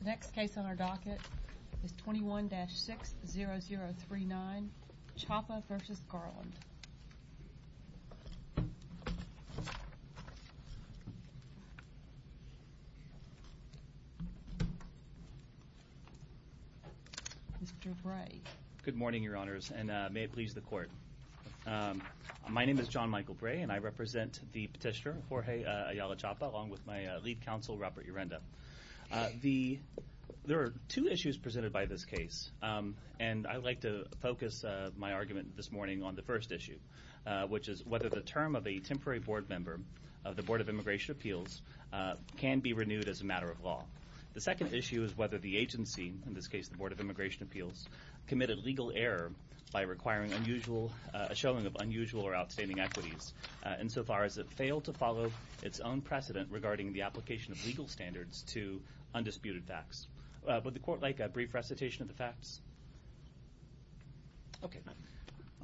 The next case on our docket is 21-60039 Chapa v. Garland. Mr. Bray. Good morning, Your Honors, and may it please the Court. My name is John Michael Bray, and I represent the petitioner, Jorge Ayala Chapa, along with my lead counsel, Robert Urenda. There are two issues presented by this case, and I would like to focus my argument this morning on the first issue, which is whether the term of a temporary board member of the Board of Immigration Appeals can be renewed as a matter of law. The second issue is whether the agency, in this case the Board of Immigration Appeals, committed legal error by requiring a showing of unusual or outstanding equities insofar as it failed to follow its own precedent regarding the application of legal standards to undisputed facts. Would the Court like a brief recitation of the facts? Okay.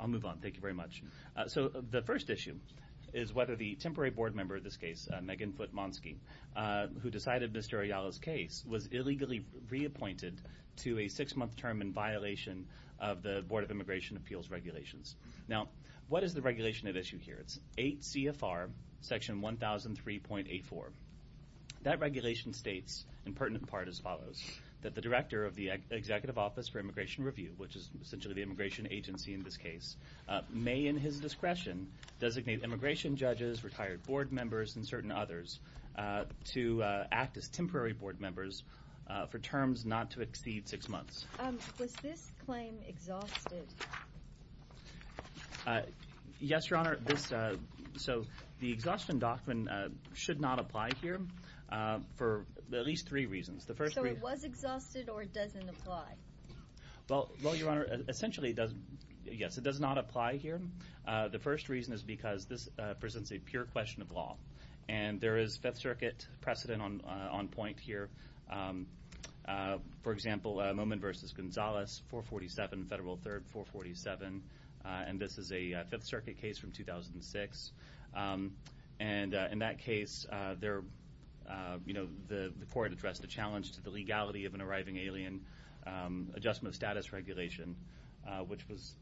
I'll move on. Thank you very much. So the first issue is whether the temporary board member of this case, Megan Foote-Monsky, who decided Mr. Ayala's case was illegally reappointed to a six-month term in violation of the Board of Immigration Appeals regulations. Now, what is the regulation at issue here? It's 8 CFR Section 1003.84. That regulation states, in pertinent part as follows, that the director of the Executive Office for Immigration Review, which is essentially the immigration agency in this case, may in his discretion designate immigration judges, retired board members, and certain others to act as temporary board members for terms not to exceed six months. Was this claim exhausted? Yes, Your Honor. So the exhaustion doctrine should not apply here for at least three reasons. So it was exhausted or it doesn't apply? Well, Your Honor, essentially, yes, it does not apply here. The first reason is because this presents a pure question of law, and there is Fifth Circuit precedent on point here. For example, Momin v. Gonzalez, 447, Federal 3rd, 447, and this is a Fifth Circuit case from 2006. And in that case, the court addressed the challenge to the legality of an arriving alien adjustment of status regulation, which was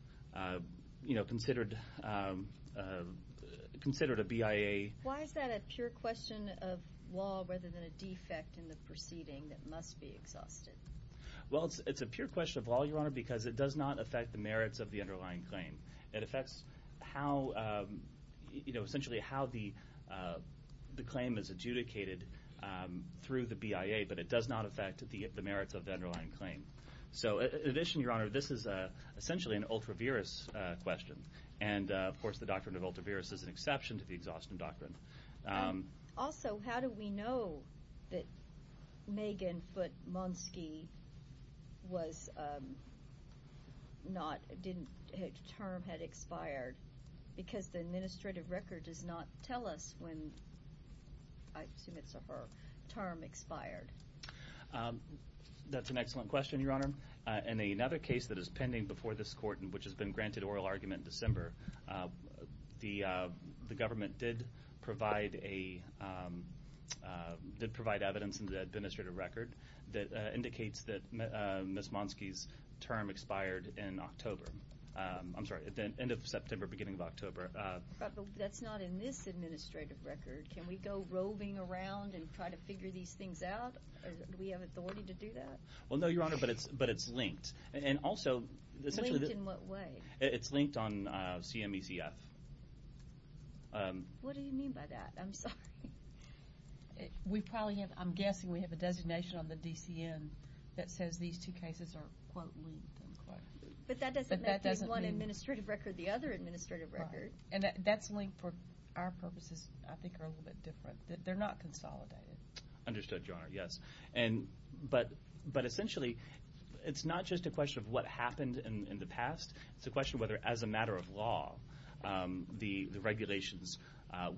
considered a BIA. Why is that a pure question of law rather than a defect in the proceeding that must be exhausted? Well, it's a pure question of law, Your Honor, because it does not affect the merits of the underlying claim. It affects essentially how the claim is adjudicated through the BIA, but it does not affect the merits of the underlying claim. So in addition, Your Honor, this is essentially an ultra-virus question, and, of course, the doctrine of ultra-virus is an exception to the exhaustion doctrine. Also, how do we know that Megan Foote-Monski was not, didn't, her term had expired? Because the administrative record does not tell us when, I assume it's her term expired. That's an excellent question, Your Honor. In another case that is pending before this court, which has been granted oral argument in December, the government did provide evidence in the administrative record that indicates that Ms. Monski's term expired in October. I'm sorry, at the end of September, beginning of October. But that's not in this administrative record. Can we go roving around and try to figure these things out? Do we have authority to do that? Well, no, Your Honor, but it's linked. Linked in what way? It's linked on CMECF. What do you mean by that? I'm sorry. I'm guessing we have a designation on the DCN that says these two cases are, quote, linked, unquote. But that doesn't make one administrative record the other administrative record. And that's linked for our purposes, I think, are a little bit different. They're not consolidated. Understood, Your Honor, yes. But essentially, it's not just a question of what happened in the past. It's a question of whether, as a matter of law, the regulations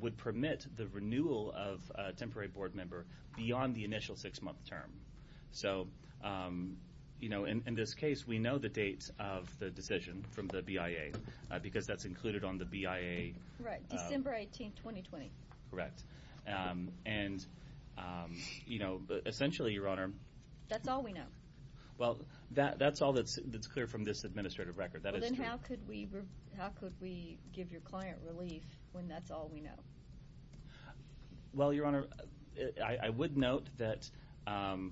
would permit the renewal of a temporary board member beyond the initial six-month term. So, you know, in this case, we know the date of the decision from the BIA because that's included on the BIA. Right, December 18, 2020. Correct. And, you know, essentially, Your Honor. That's all we know. Well, that's all that's clear from this administrative record. Well, then how could we give your client relief when that's all we know? Well, Your Honor, I would note that on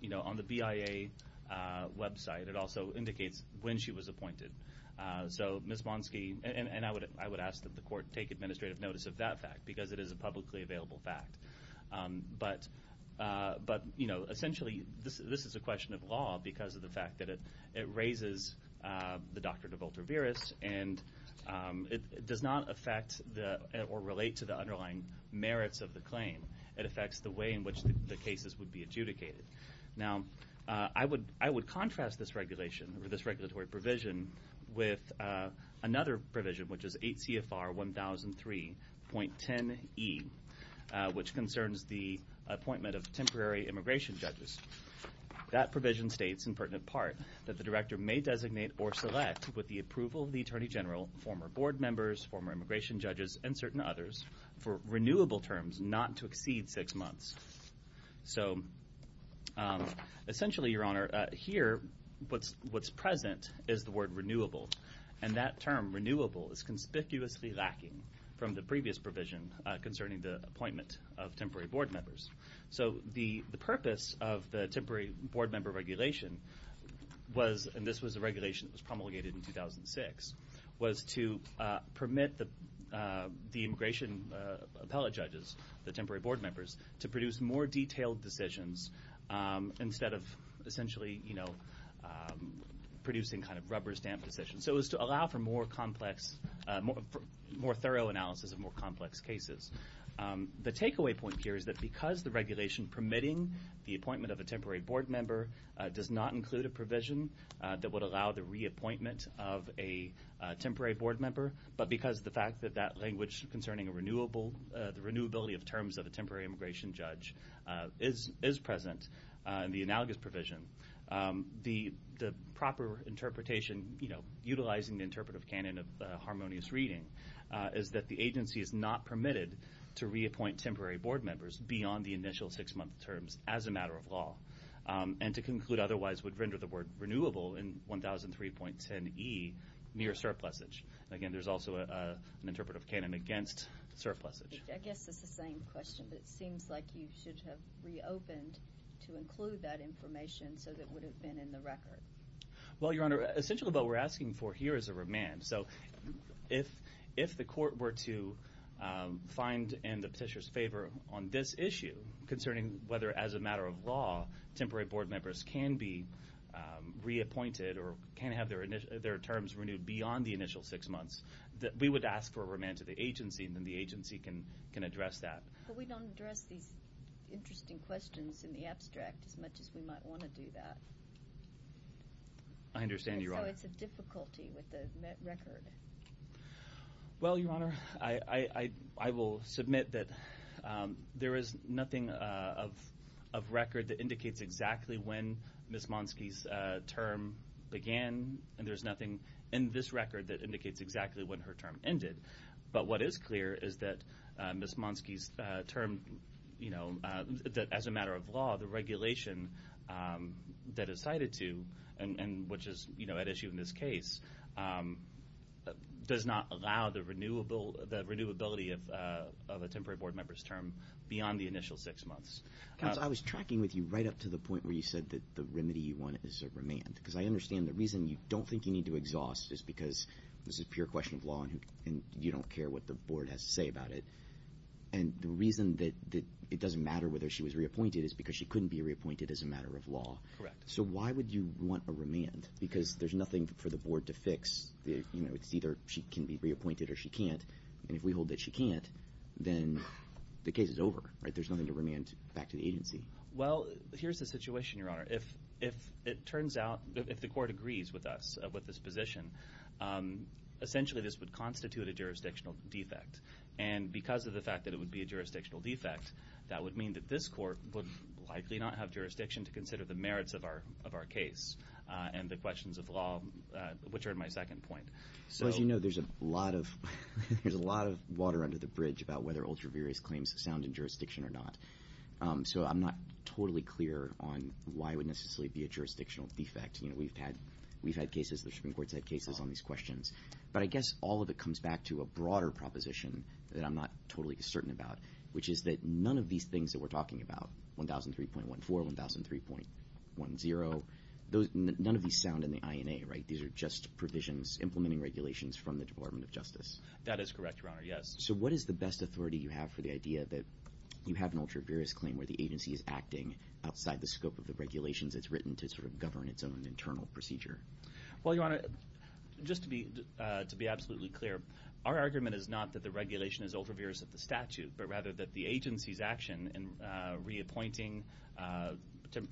the BIA website, it also indicates when she was appointed. So, Ms. Monski, and I would ask that the court take administrative notice of that fact because it is a publicly available fact. But, you know, essentially, this is a question of law because of the fact that it raises the doctor to vultuveris, and it does not affect or relate to the underlying merits of the claim. It affects the way in which the cases would be adjudicated. Now, I would contrast this regulation or this regulatory provision with another provision, which is 8 CFR 1003.10e, which concerns the appointment of temporary immigration judges. That provision states, in pertinent part, that the director may designate or select, with the approval of the attorney general, former board members, former immigration judges, and certain others, for renewable terms not to exceed six months. So, essentially, Your Honor, here, what's present is the word renewable, and that term, renewable, is conspicuously lacking from the previous provision concerning the appointment of temporary board members. So the purpose of the temporary board member regulation was, and this was a regulation that was promulgated in 2006, was to permit the immigration appellate judges, the temporary board members, to produce more detailed decisions instead of, essentially, you know, producing kind of rubber stamp decisions. So it was to allow for more complex, more thorough analysis of more complex cases. The takeaway point here is that because the regulation permitting the appointment of a temporary board member does not include a provision that would allow the reappointment of a temporary board member, but because of the fact that that language concerning the renewability of terms of a temporary immigration judge is present in the analogous provision, the proper interpretation, you know, utilizing the interpretive canon of harmonious reading, is that the agency is not permitted to reappoint temporary board members beyond the initial six-month terms as a matter of law, and to conclude otherwise would render the word renewable in 1003.10e mere surplusage. Again, there's also an interpretive canon against surplusage. I guess it's the same question, but it seems like you should have reopened to include that information so that it would have been in the record. Well, Your Honor, essentially what we're asking for here is a remand. So if the court were to find in the petitioner's favor on this issue concerning whether, as a matter of law, temporary board members can be reappointed or can have their terms renewed beyond the initial six months, we would ask for a remand to the agency, and then the agency can address that. But we don't address these interesting questions in the abstract as much as we might want to do that. I understand, Your Honor. I know it's a difficulty with the record. Well, Your Honor, I will submit that there is nothing of record that indicates exactly when Ms. Monsky's term began, and there's nothing in this record that indicates exactly when her term ended. But what is clear is that Ms. Monsky's term, you know, as a matter of law, the regulation that is cited to and which is, you know, at issue in this case, does not allow the renewability of a temporary board member's term beyond the initial six months. I was tracking with you right up to the point where you said that the remedy you want is a remand, because I understand the reason you don't think you need to exhaust is because this is a pure question of law and you don't care what the board has to say about it. And the reason that it doesn't matter whether she was reappointed is because she couldn't be reappointed as a matter of law. Correct. So why would you want a remand? Because there's nothing for the board to fix. You know, it's either she can be reappointed or she can't. And if we hold that she can't, then the case is over, right? There's nothing to remand back to the agency. Well, here's the situation, Your Honor. If it turns out, if the court agrees with us, with this position, essentially this would constitute a jurisdictional defect. And because of the fact that it would be a jurisdictional defect, that would mean that this court would likely not have jurisdiction to consider the merits of our case and the questions of law, which are in my second point. Well, as you know, there's a lot of water under the bridge about whether ultraviarious claims sound in jurisdiction or not. So I'm not totally clear on why it would necessarily be a jurisdictional defect. You know, we've had cases, the Supreme Court's had cases on these questions. But I guess all of it comes back to a broader proposition that I'm not totally certain about, which is that none of these things that we're talking about, 1003.14, 1003.10, none of these sound in the INA, right? These are just provisions implementing regulations from the Department of Justice. That is correct, Your Honor, yes. So what is the best authority you have for the idea that you have an ultraviarious claim where the agency is acting outside the scope of the regulations it's written to sort of govern its own internal procedure? Well, Your Honor, just to be absolutely clear, our argument is not that the regulation is ultraviarious of the statute, but rather that the agency's action in reappointing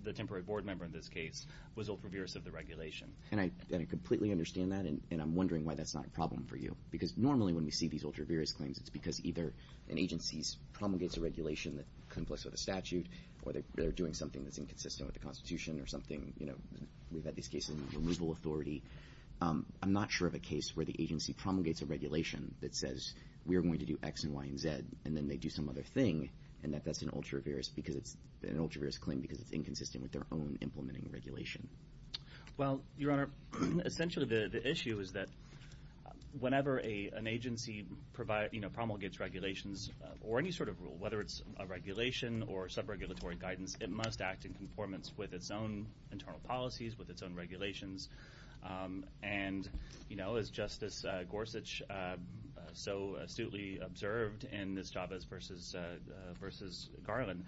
the temporary board member in this case was ultraviarious of the regulation. And I completely understand that, and I'm wondering why that's not a problem for you. Because normally when we see these ultraviarious claims, it's because either an agency promulgates a regulation that conflicts with a statute or they're doing something that's inconsistent with the Constitution or something, you know, we've had these cases in removal authority. I'm not sure of a case where the agency promulgates a regulation that says we are going to do X and Y and Z and then they do some other thing and that that's an ultraviarious claim because it's inconsistent with their own implementing regulation. Well, Your Honor, essentially the issue is that whenever an agency promulgates regulations or any sort of rule, whether it's a regulation or sub-regulatory guidance, it must act in conformance with its own internal policies, with its own regulations. And, you know, as Justice Gorsuch so astutely observed in this Chavez v. Garland,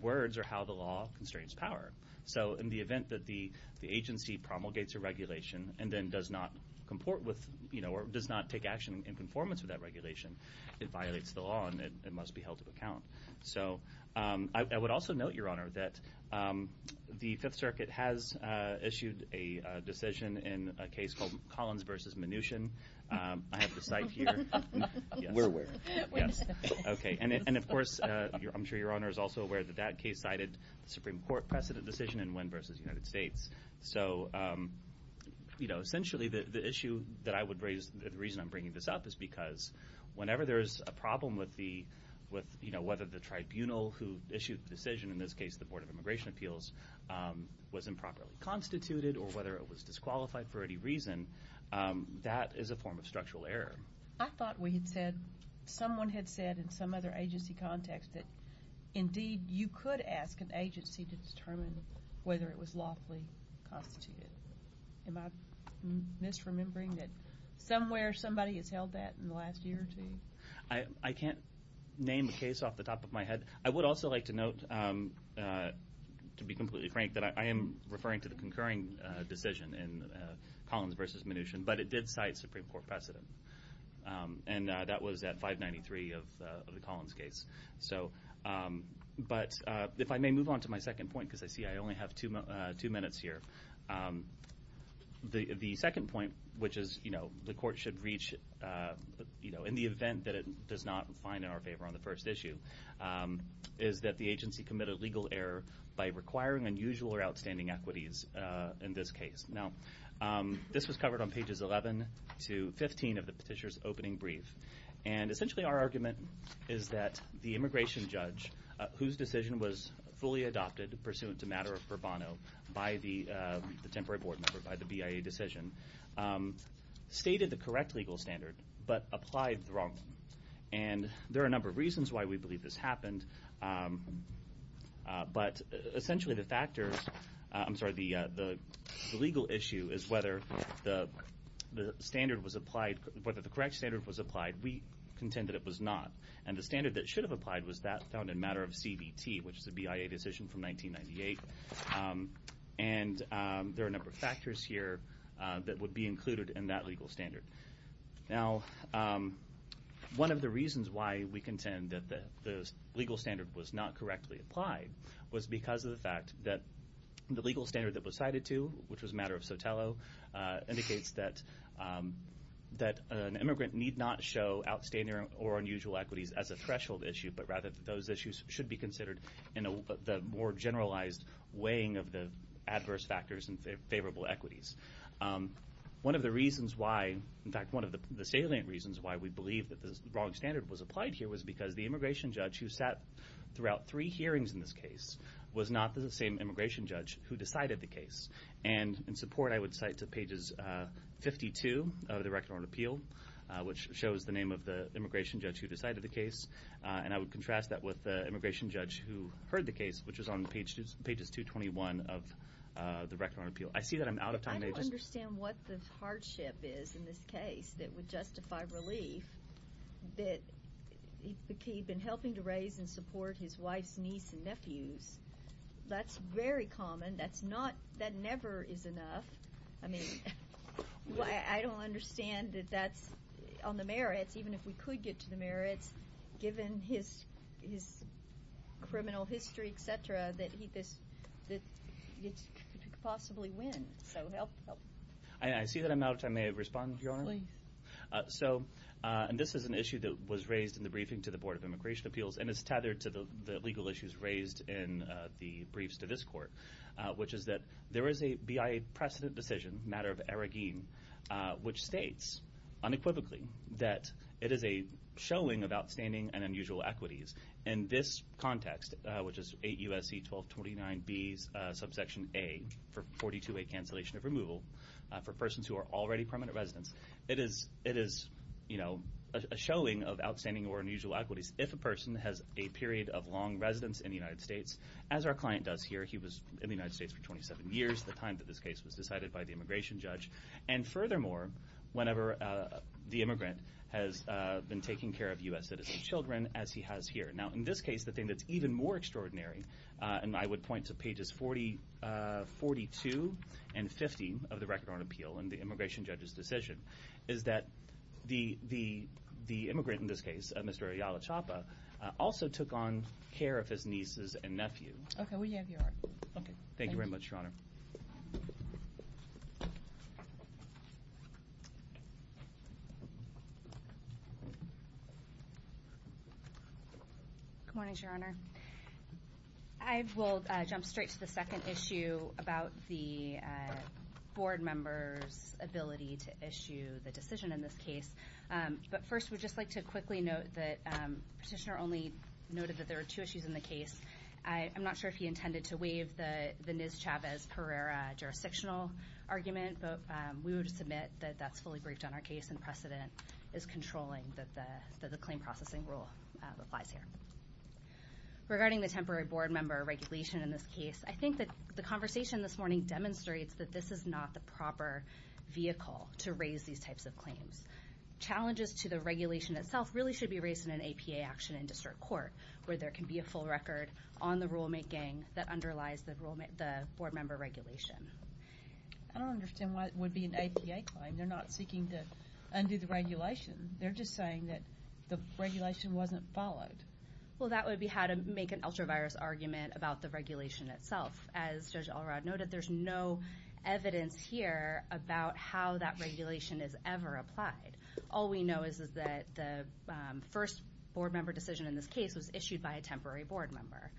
words are how the law constrains power. So in the event that the agency promulgates a regulation and then does not comport with, you know, or does not take action in conformance with that regulation, it violates the law and it must be held to account. So I would also note, Your Honor, that the Fifth Circuit has issued a decision in a case called Collins v. Mnuchin. I have the site here. We're aware. Okay. And, of course, I'm sure Your Honor is also aware that that case cited the Supreme Court precedent decision in Wynn v. United States. So, you know, essentially the issue that I would raise, the reason I'm bringing this up, is because whenever there is a problem with, you know, whether the tribunal who issued the decision, in this case the Board of Immigration Appeals, was improperly constituted or whether it was disqualified for any reason, that is a form of structural error. I thought we had said, someone had said in some other agency context that, indeed, you could ask an agency to determine whether it was lawfully constituted. Am I misremembering that somewhere somebody has held that in the last year or two? I can't name a case off the top of my head. I would also like to note, to be completely frank, that I am referring to the concurring decision in Collins v. Mnuchin, but it did cite Supreme Court precedent, and that was at 593 of the Collins case. So, but if I may move on to my second point, because I see I only have two minutes here. The second point, which is, you know, the court should reach, you know, in the event that it does not find in our favor on the first issue, is that the agency committed legal error by requiring unusual or outstanding equities in this case. Now, this was covered on pages 11 to 15 of the petitioner's opening brief, and essentially our argument is that the immigration judge, whose decision was fully adopted pursuant to matter of furbano by the temporary board member, by the BIA decision, stated the correct legal standard but applied the wrong one. And there are a number of reasons why we believe this happened, but essentially the factors, I'm sorry, the legal issue is whether the standard was applied, whether the correct standard was applied. We contend that it was not, and the standard that should have applied was that found in matter of CBT, which is the BIA decision from 1998. And there are a number of factors here that would be included in that legal standard. Now, one of the reasons why we contend that the legal standard was not correctly applied was because of the fact that the legal standard that was cited to, which was matter of Sotelo, indicates that an immigrant need not show outstanding or unusual equities as a threshold issue, but rather that those issues should be considered in the more generalized weighing of the adverse factors and favorable equities. One of the reasons why, in fact, one of the salient reasons why we believe that the wrong standard was applied here was because the immigration judge who sat throughout three hearings in this case was not the same immigration judge who decided the case. And in support, I would cite to Pages 52 of the Record on Appeal, which shows the name of the immigration judge who decided the case, and I would contrast that with the immigration judge who heard the case, which is on Pages 221 of the Record on Appeal. I see that I'm out of time. I don't understand what the hardship is in this case that would justify relief, that he'd been helping to raise and support his wife's niece and nephews. That's very common. That never is enough. I mean, I don't understand that that's on the merits, even if we could get to the merits, given his criminal history, et cetera, that he could possibly win. So help, help. I see that I'm out of time. May I respond, Your Honor? Please. So this is an issue that was raised in the briefing to the Board of Immigration Appeals and is tethered to the legal issues raised in the briefs to this court, which is that there is a BIA precedent decision, a matter of arrogance, which states unequivocally that it is a showing of outstanding and unusual equities. In this context, which is 8 U.S.C. 1229B's subsection A for 42A cancellation of removal for persons who are already permanent residents, it is a showing of outstanding or unusual equities if a person has a period of long residence in the United States, as our client does here. He was in the United States for 27 years, the time that this case was decided by the immigration judge. And furthermore, whenever the immigrant has been taking care of U.S. citizen children, as he has here. Now, in this case, the thing that's even more extraordinary, and I would point to pages 42 and 50 of the Record on Appeal and the immigration judge's decision, is that the immigrant in this case, Mr. Ayala Chapa, also took on care of his nieces and nephew. Okay, we have your argument. Thank you very much, Your Honor. Good morning, Your Honor. I will jump straight to the second issue about the board member's ability to issue the decision in this case. But first, we'd just like to quickly note that Petitioner only noted that there were two issues in the case. I'm not sure if he intended to waive the Nis-Chavez-Pereira jurisdictional argument, but we would submit that that's fully briefed on our case, and precedent is controlling that the claim processing rule applies here. Regarding the temporary board member regulation in this case, I think that the conversation this morning demonstrates that this is not the proper vehicle to raise these types of claims. Challenges to the regulation itself really should be raised in an APA action in district court, where there can be a full record on the rulemaking that underlies the board member regulation. I don't understand why it would be an APA claim. They're not seeking to undo the regulation. They're just saying that the regulation wasn't followed. Well, that would be how to make an ultra-virus argument about the regulation itself. As Judge Alrod noted, there's no evidence here about how that regulation is ever applied. All we know is that the first board member decision in this case was issued by a temporary board member.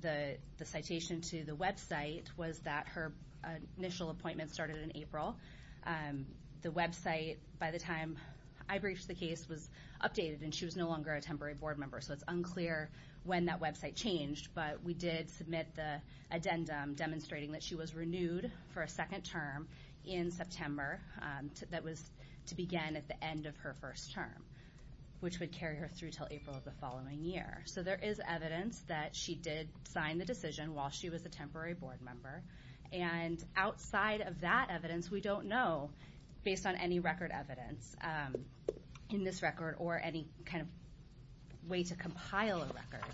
The citation to the website was that her initial appointment started in April. The website, by the time I briefed the case, was updated, and she was no longer a temporary board member, so it's unclear when that website changed. But we did submit the addendum demonstrating that she was renewed for a second term in September that was to begin at the end of her first term, which would carry her through until April of the following year. So there is evidence that she did sign the decision while she was a temporary board member. And outside of that evidence, we don't know, based on any record evidence in this record or any kind of way to compile a record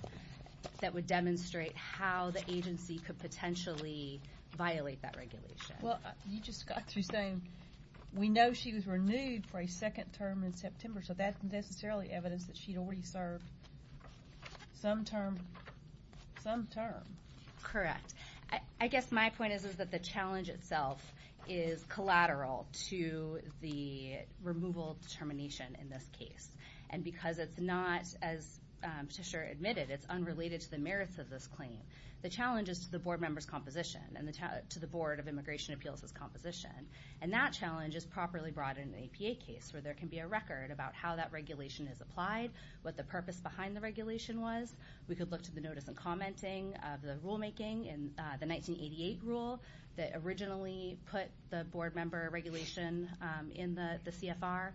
that would demonstrate how the agency could potentially violate that regulation. Well, you just got through saying we know she was renewed for a second term in September, so that isn't necessarily evidence that she'd already served some term. Correct. I guess my point is that the challenge itself is collateral to the removal determination in this case. And because it's not, as Patricia admitted, it's unrelated to the merits of this claim, the challenge is to the board member's composition and to the Board of Immigration Appeals' composition. And that challenge is properly brought in an APA case where there can be a record about how that regulation is applied, what the purpose behind the regulation was. We could look to the notice and commenting of the rulemaking in the 1988 rule that originally put the board member regulation in the CFR.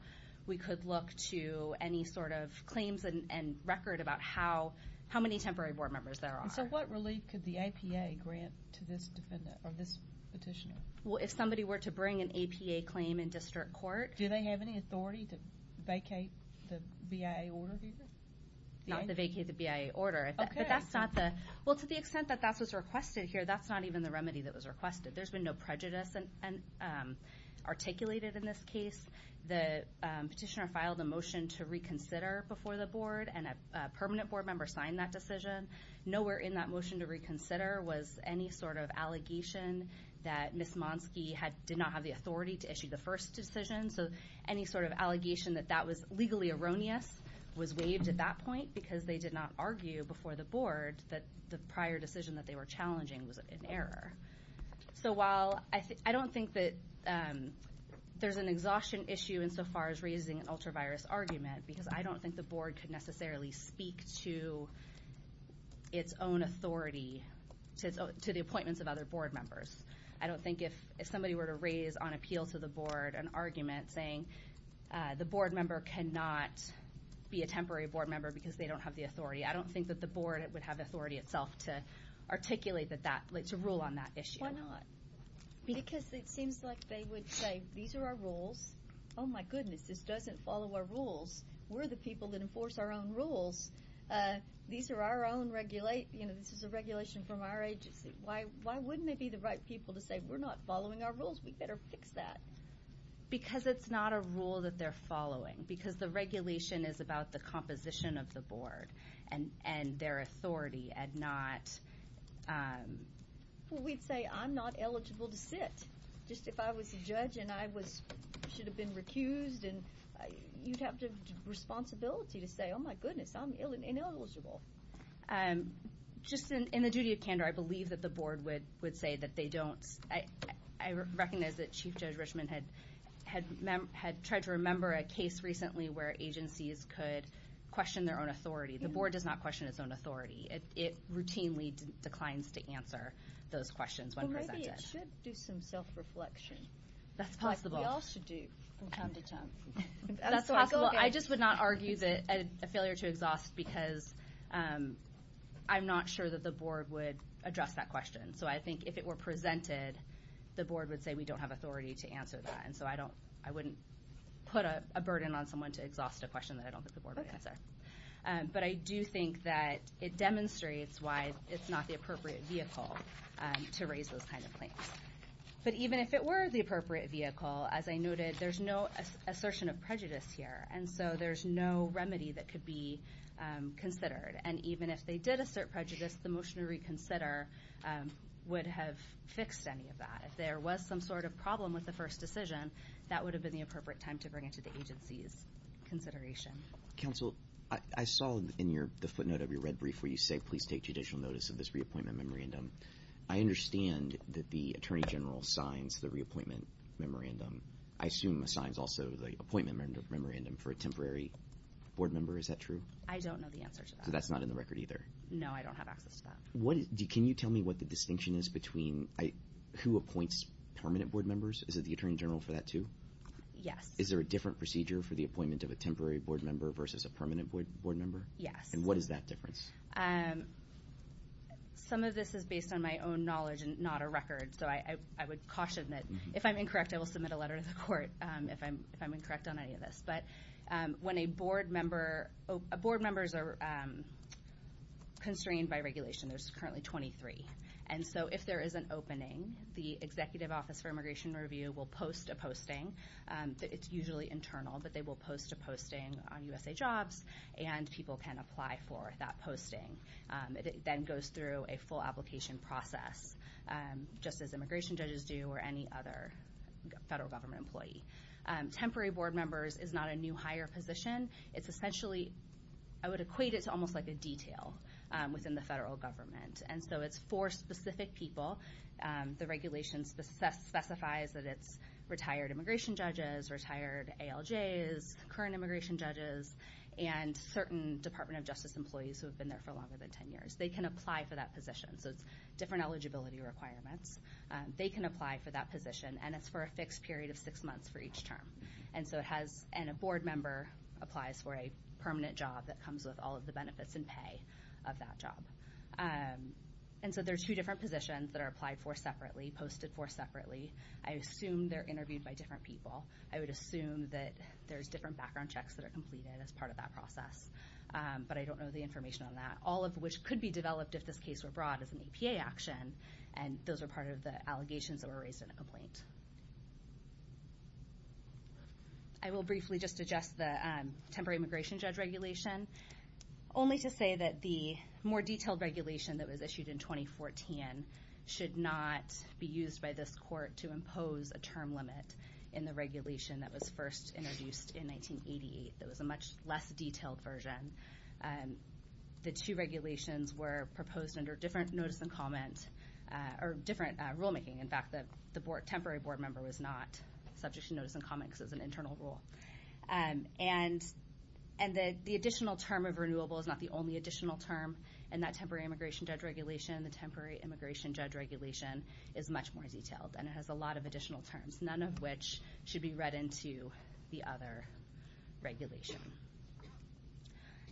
We could look to any sort of claims and record about how many temporary board members there are. And so what relief could the APA grant to this petitioner? Well, if somebody were to bring an APA claim in district court. Do they have any authority to vacate the BIA order here? Not to vacate the BIA order. Okay. Well, to the extent that that's what's requested here, that's not even the remedy that was requested. There's been no prejudice articulated in this case. The petitioner filed a motion to reconsider before the board, and a permanent board member signed that decision. Nowhere in that motion to reconsider was any sort of allegation that Ms. Monski did not have the authority to issue the first decision. So any sort of allegation that that was legally erroneous was waived at that point because they did not argue before the board that the prior decision that they were challenging was an error. So while I don't think that there's an exhaustion issue in so far as raising an ultra-virus argument because I don't think the board could necessarily speak to its own authority to the appointments of other board members. I don't think if somebody were to raise on appeal to the board an argument saying the board member cannot be a temporary board member because they don't have the authority. I don't think that the board would have authority itself to articulate to rule on that issue. Why not? Because it seems like they would say, these are our rules. Oh my goodness, this doesn't follow our rules. We're the people that enforce our own rules. These are our own regulations. This is a regulation from our agency. Why wouldn't it be the right people to say, we're not following our rules. We better fix that. Because it's not a rule that they're following. Because the regulation is about the composition of the board and their authority and not... Well, we'd say, I'm not eligible to sit. Just if I was a judge and I should have been recused, you'd have the responsibility to say, oh my goodness, I'm ineligible. Just in the duty of candor, I believe that the board would say that they don't... I recognize that Chief Judge Richman had tried to remember a case recently where agencies could question their own authority. The board does not question its own authority. It routinely declines to answer those questions when presented. Maybe it should do some self-reflection. That's possible. Like we all should do from time to time. That's possible. I just would not argue that a failure to exhaust because I'm not sure that the board would address that question. So I think if it were presented, the board would say we don't have authority to answer that. And so I wouldn't put a burden on someone to exhaust a question that I don't think the board would answer. But I do think that it demonstrates why it's not the appropriate vehicle to raise those kind of claims. But even if it were the appropriate vehicle, as I noted, there's no assertion of prejudice here. And so there's no remedy that could be considered. And even if they did assert prejudice, the motion to reconsider would have fixed any of that. If there was some sort of problem with the first decision, that would have been the appropriate time to bring it to the agency's consideration. Counsel, I saw in the footnote of your red brief where you say please take judicial notice of this reappointment memorandum. I understand that the attorney general signs the reappointment memorandum. I assume he signs also the appointment memorandum for a temporary board member. Is that true? I don't know the answer to that. So that's not in the record either? No, I don't have access to that. Can you tell me what the distinction is between who appoints permanent board members? Is it the attorney general for that too? Yes. Is there a different procedure for the appointment of a temporary board member versus a permanent board member? Yes. And what is that difference? Some of this is based on my own knowledge and not a record. So I would caution that if I'm incorrect, I will submit a letter to the court if I'm incorrect on any of this. But when a board member is constrained by regulation, there's currently 23. And so if there is an opening, the Executive Office for Immigration Review will post a posting. It's usually internal, but they will post a posting on USAJOBS, and people can apply for that posting. It then goes through a full application process, just as immigration judges do or any other federal government employee. Temporary board members is not a new hire position. It's essentially, I would equate it to almost like a detail within the federal government. And so it's for specific people. The regulation specifies that it's retired immigration judges, retired ALJs, current immigration judges, and certain Department of Justice employees who have been there for longer than 10 years. They can apply for that position. So it's different eligibility requirements. They can apply for that position, and it's for a fixed period of six months for each term. And a board member applies for a permanent job that comes with all of the benefits and pay of that job. And so there are two different positions that are applied for separately, posted for separately. I assume they're interviewed by different people. I would assume that there's different background checks that are completed as part of that process. But I don't know the information on that. All of which could be developed if this case were brought as an APA action, and those are part of the allegations that were raised in the complaint. I will briefly just address the temporary immigration judge regulation, only to say that the more detailed regulation that was issued in 2014 should not be used by this court to impose a term limit in the regulation that was first introduced in 1988. That was a much less detailed version. The two regulations were proposed under different notice and comment, or different rulemaking. In fact, the temporary board member was not subject to notice and comment because it was an internal rule. And the additional term of renewable is not the only additional term in that temporary immigration judge regulation. The temporary immigration judge regulation is much more detailed, and it has a lot of additional terms, none of which should be read into the other regulation.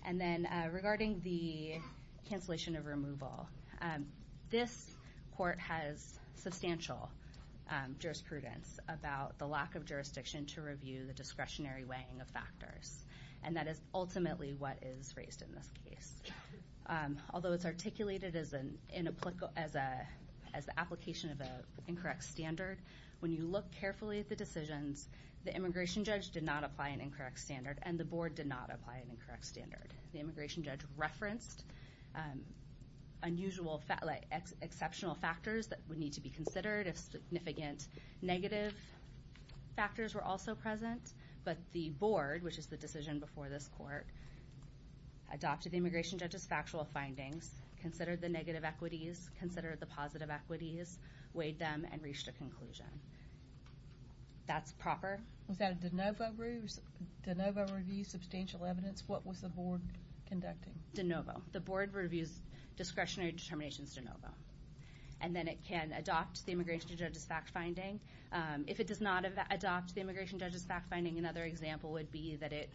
And then regarding the cancellation of removal, this court has substantial jurisprudence about the lack of jurisdiction to review the discretionary weighing of factors. And that is ultimately what is raised in this case. Although it's articulated as the application of an incorrect standard, when you look carefully at the decisions, the immigration judge did not apply an incorrect standard, and the board did not apply an incorrect standard. The immigration judge referenced unusual, exceptional factors that would need to be considered if significant negative factors were also present. But the board, which is the decision before this court, adopted the immigration judge's factual findings, considered the negative equities, considered the positive equities, weighed them, and reached a conclusion. That's proper. Was that a de novo review? De novo review, substantial evidence. What was the board conducting? De novo. The board reviews discretionary determinations de novo. And then it can adopt the immigration judge's fact-finding. If it does not adopt the immigration judge's fact-finding, another example would be that it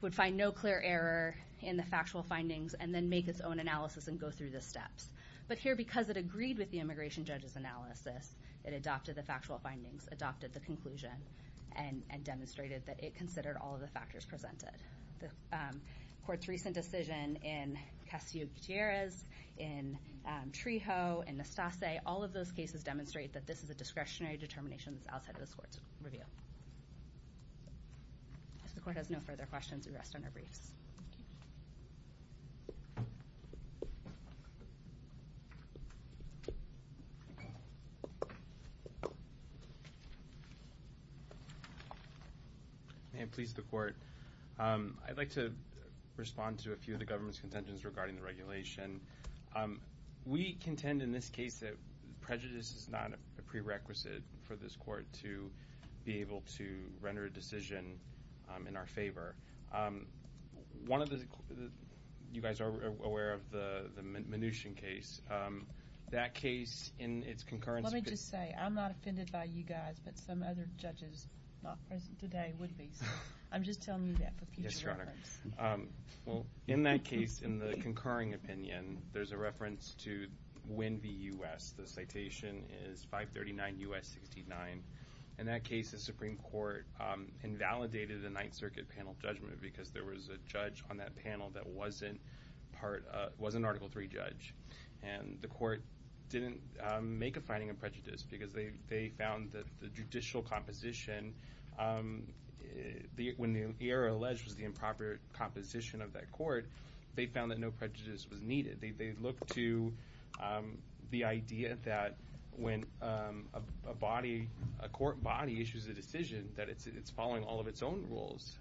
would find no clear error in the factual findings and then make its own analysis and go through the steps. But here, because it agreed with the immigration judge's analysis, it adopted the factual findings, adopted the conclusion, and demonstrated that it considered all of the factors presented. The court's recent decision in Castillo-Gutierrez, in Trejo, in Nastase, all of those cases demonstrate that this is a discretionary determination that's outside of this court's review. If the court has no further questions, we rest on our briefs. Thank you. May it please the Court. I'd like to respond to a few of the government's contentions regarding the regulation. We contend in this case that prejudice is not a prerequisite for this court to be able to render a decision in our favor. One of the—you guys are aware of the Mnuchin case. That case, in its concurrence— Let me just say, I'm not offended by you guys, but some other judges not present today would be, so I'm just telling you that for future reference. Yes, Your Honor. Well, in that case, in the concurring opinion, there's a reference to Win v. U.S. The citation is 539 U.S. 69. In that case, the Supreme Court invalidated the Ninth Circuit panel judgment because there was a judge on that panel that wasn't an Article III judge. And the court didn't make a finding of prejudice because they found that the judicial composition— when the error alleged was the improper composition of that court, they found that no prejudice was needed. They looked to the idea that when a court body issues a decision, that it's following all of its own rules.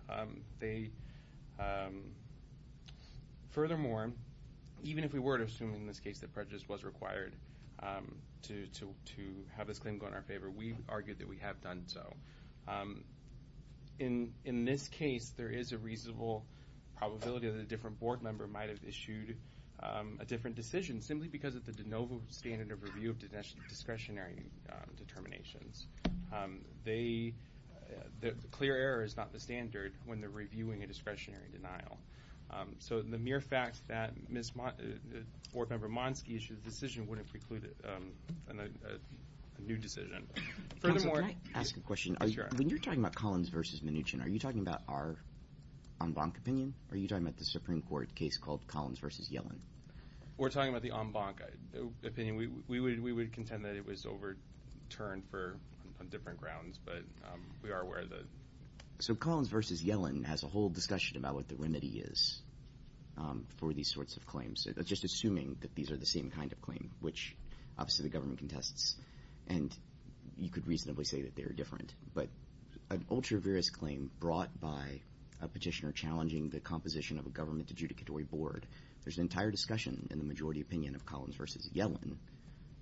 Furthermore, even if we were to assume in this case that prejudice was required to have this claim go in our favor, we argued that we have done so. In this case, there is a reasonable probability that a different board member might have issued a different decision simply because of the de novo standard of review of discretionary determinations. The clear error is not the standard when they're reviewing a discretionary denial. So the mere fact that Board Member Monsky issued a decision wouldn't preclude a new decision. Furthermore— Counsel, can I ask a question? When you're talking about Collins v. Mnuchin, are you talking about our en banc opinion, or are you talking about the Supreme Court case called Collins v. Yellen? We're talking about the en banc opinion. We would contend that it was overturned on different grounds, but we are aware of the— So Collins v. Yellen has a whole discussion about what the remedy is for these sorts of claims, just assuming that these are the same kind of claim, which obviously the government contests. And you could reasonably say that they are different. But an ultra-various claim brought by a petitioner challenging the composition of a government adjudicatory board, there's an entire discussion in the majority opinion of Collins v. Yellen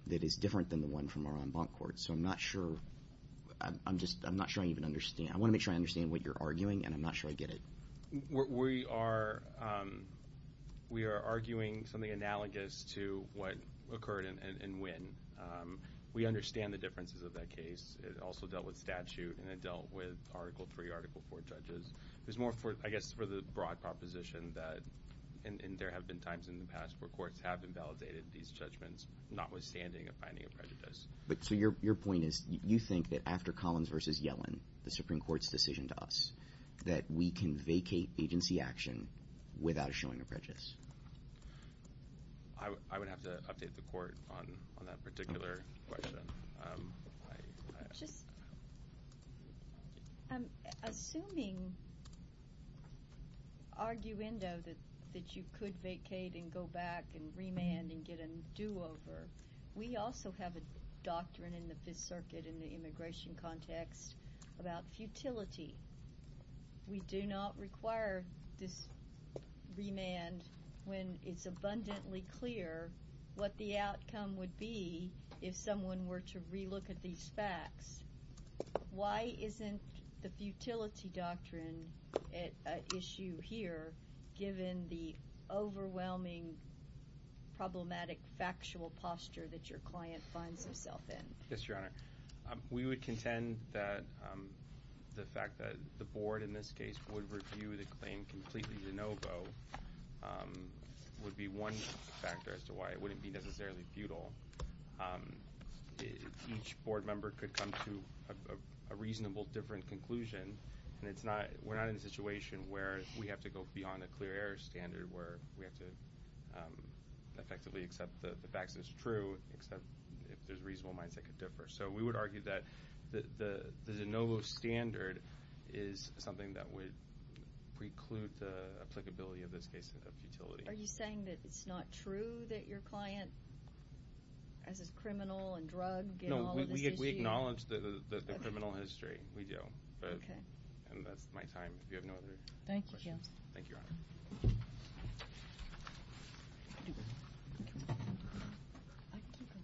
that is different than the one from our en banc court. So I'm not sure—I'm just—I'm not sure I even understand. I want to make sure I understand what you're arguing, and I'm not sure I get it. We are—we are arguing something analogous to what occurred in Wynn. We understand the differences of that case. It also dealt with statute, and it dealt with Article III, Article IV judges. There's more, I guess, for the broad proposition that—and there have been times in the past where courts have invalidated these judgments, notwithstanding a finding of prejudice. So your point is you think that after Collins v. Yellen, the Supreme Court's decision to us, that we can vacate agency action without showing a prejudice? I would have to update the court on that particular question. Assuming arguendo that you could vacate and go back and remand and get a do-over, we also have a doctrine in the Fifth Circuit in the immigration context about futility. We do not require this remand when it's abundantly clear what the outcome would be if someone were to relook at these facts. Why isn't the futility doctrine an issue here, given the overwhelming problematic factual posture that your client finds himself in? Yes, Your Honor. We would contend that the fact that the board in this case would review the claim completely de novo would be one factor as to why it wouldn't be necessarily futile. Each board member could come to a reasonable different conclusion, and we're not in a situation where we have to go beyond a clear error standard where we have to effectively accept the fact that it's true, except if there's reasonable minds that could differ. So we would argue that the de novo standard is something that would preclude the applicability of this case of futility. Are you saying that it's not true that your client, as a criminal and drug, get all of this issue? No, we acknowledge the criminal history. We do. Okay. And that's my time if you have no other questions. Thank you, Counsel. Thank you, Your Honor.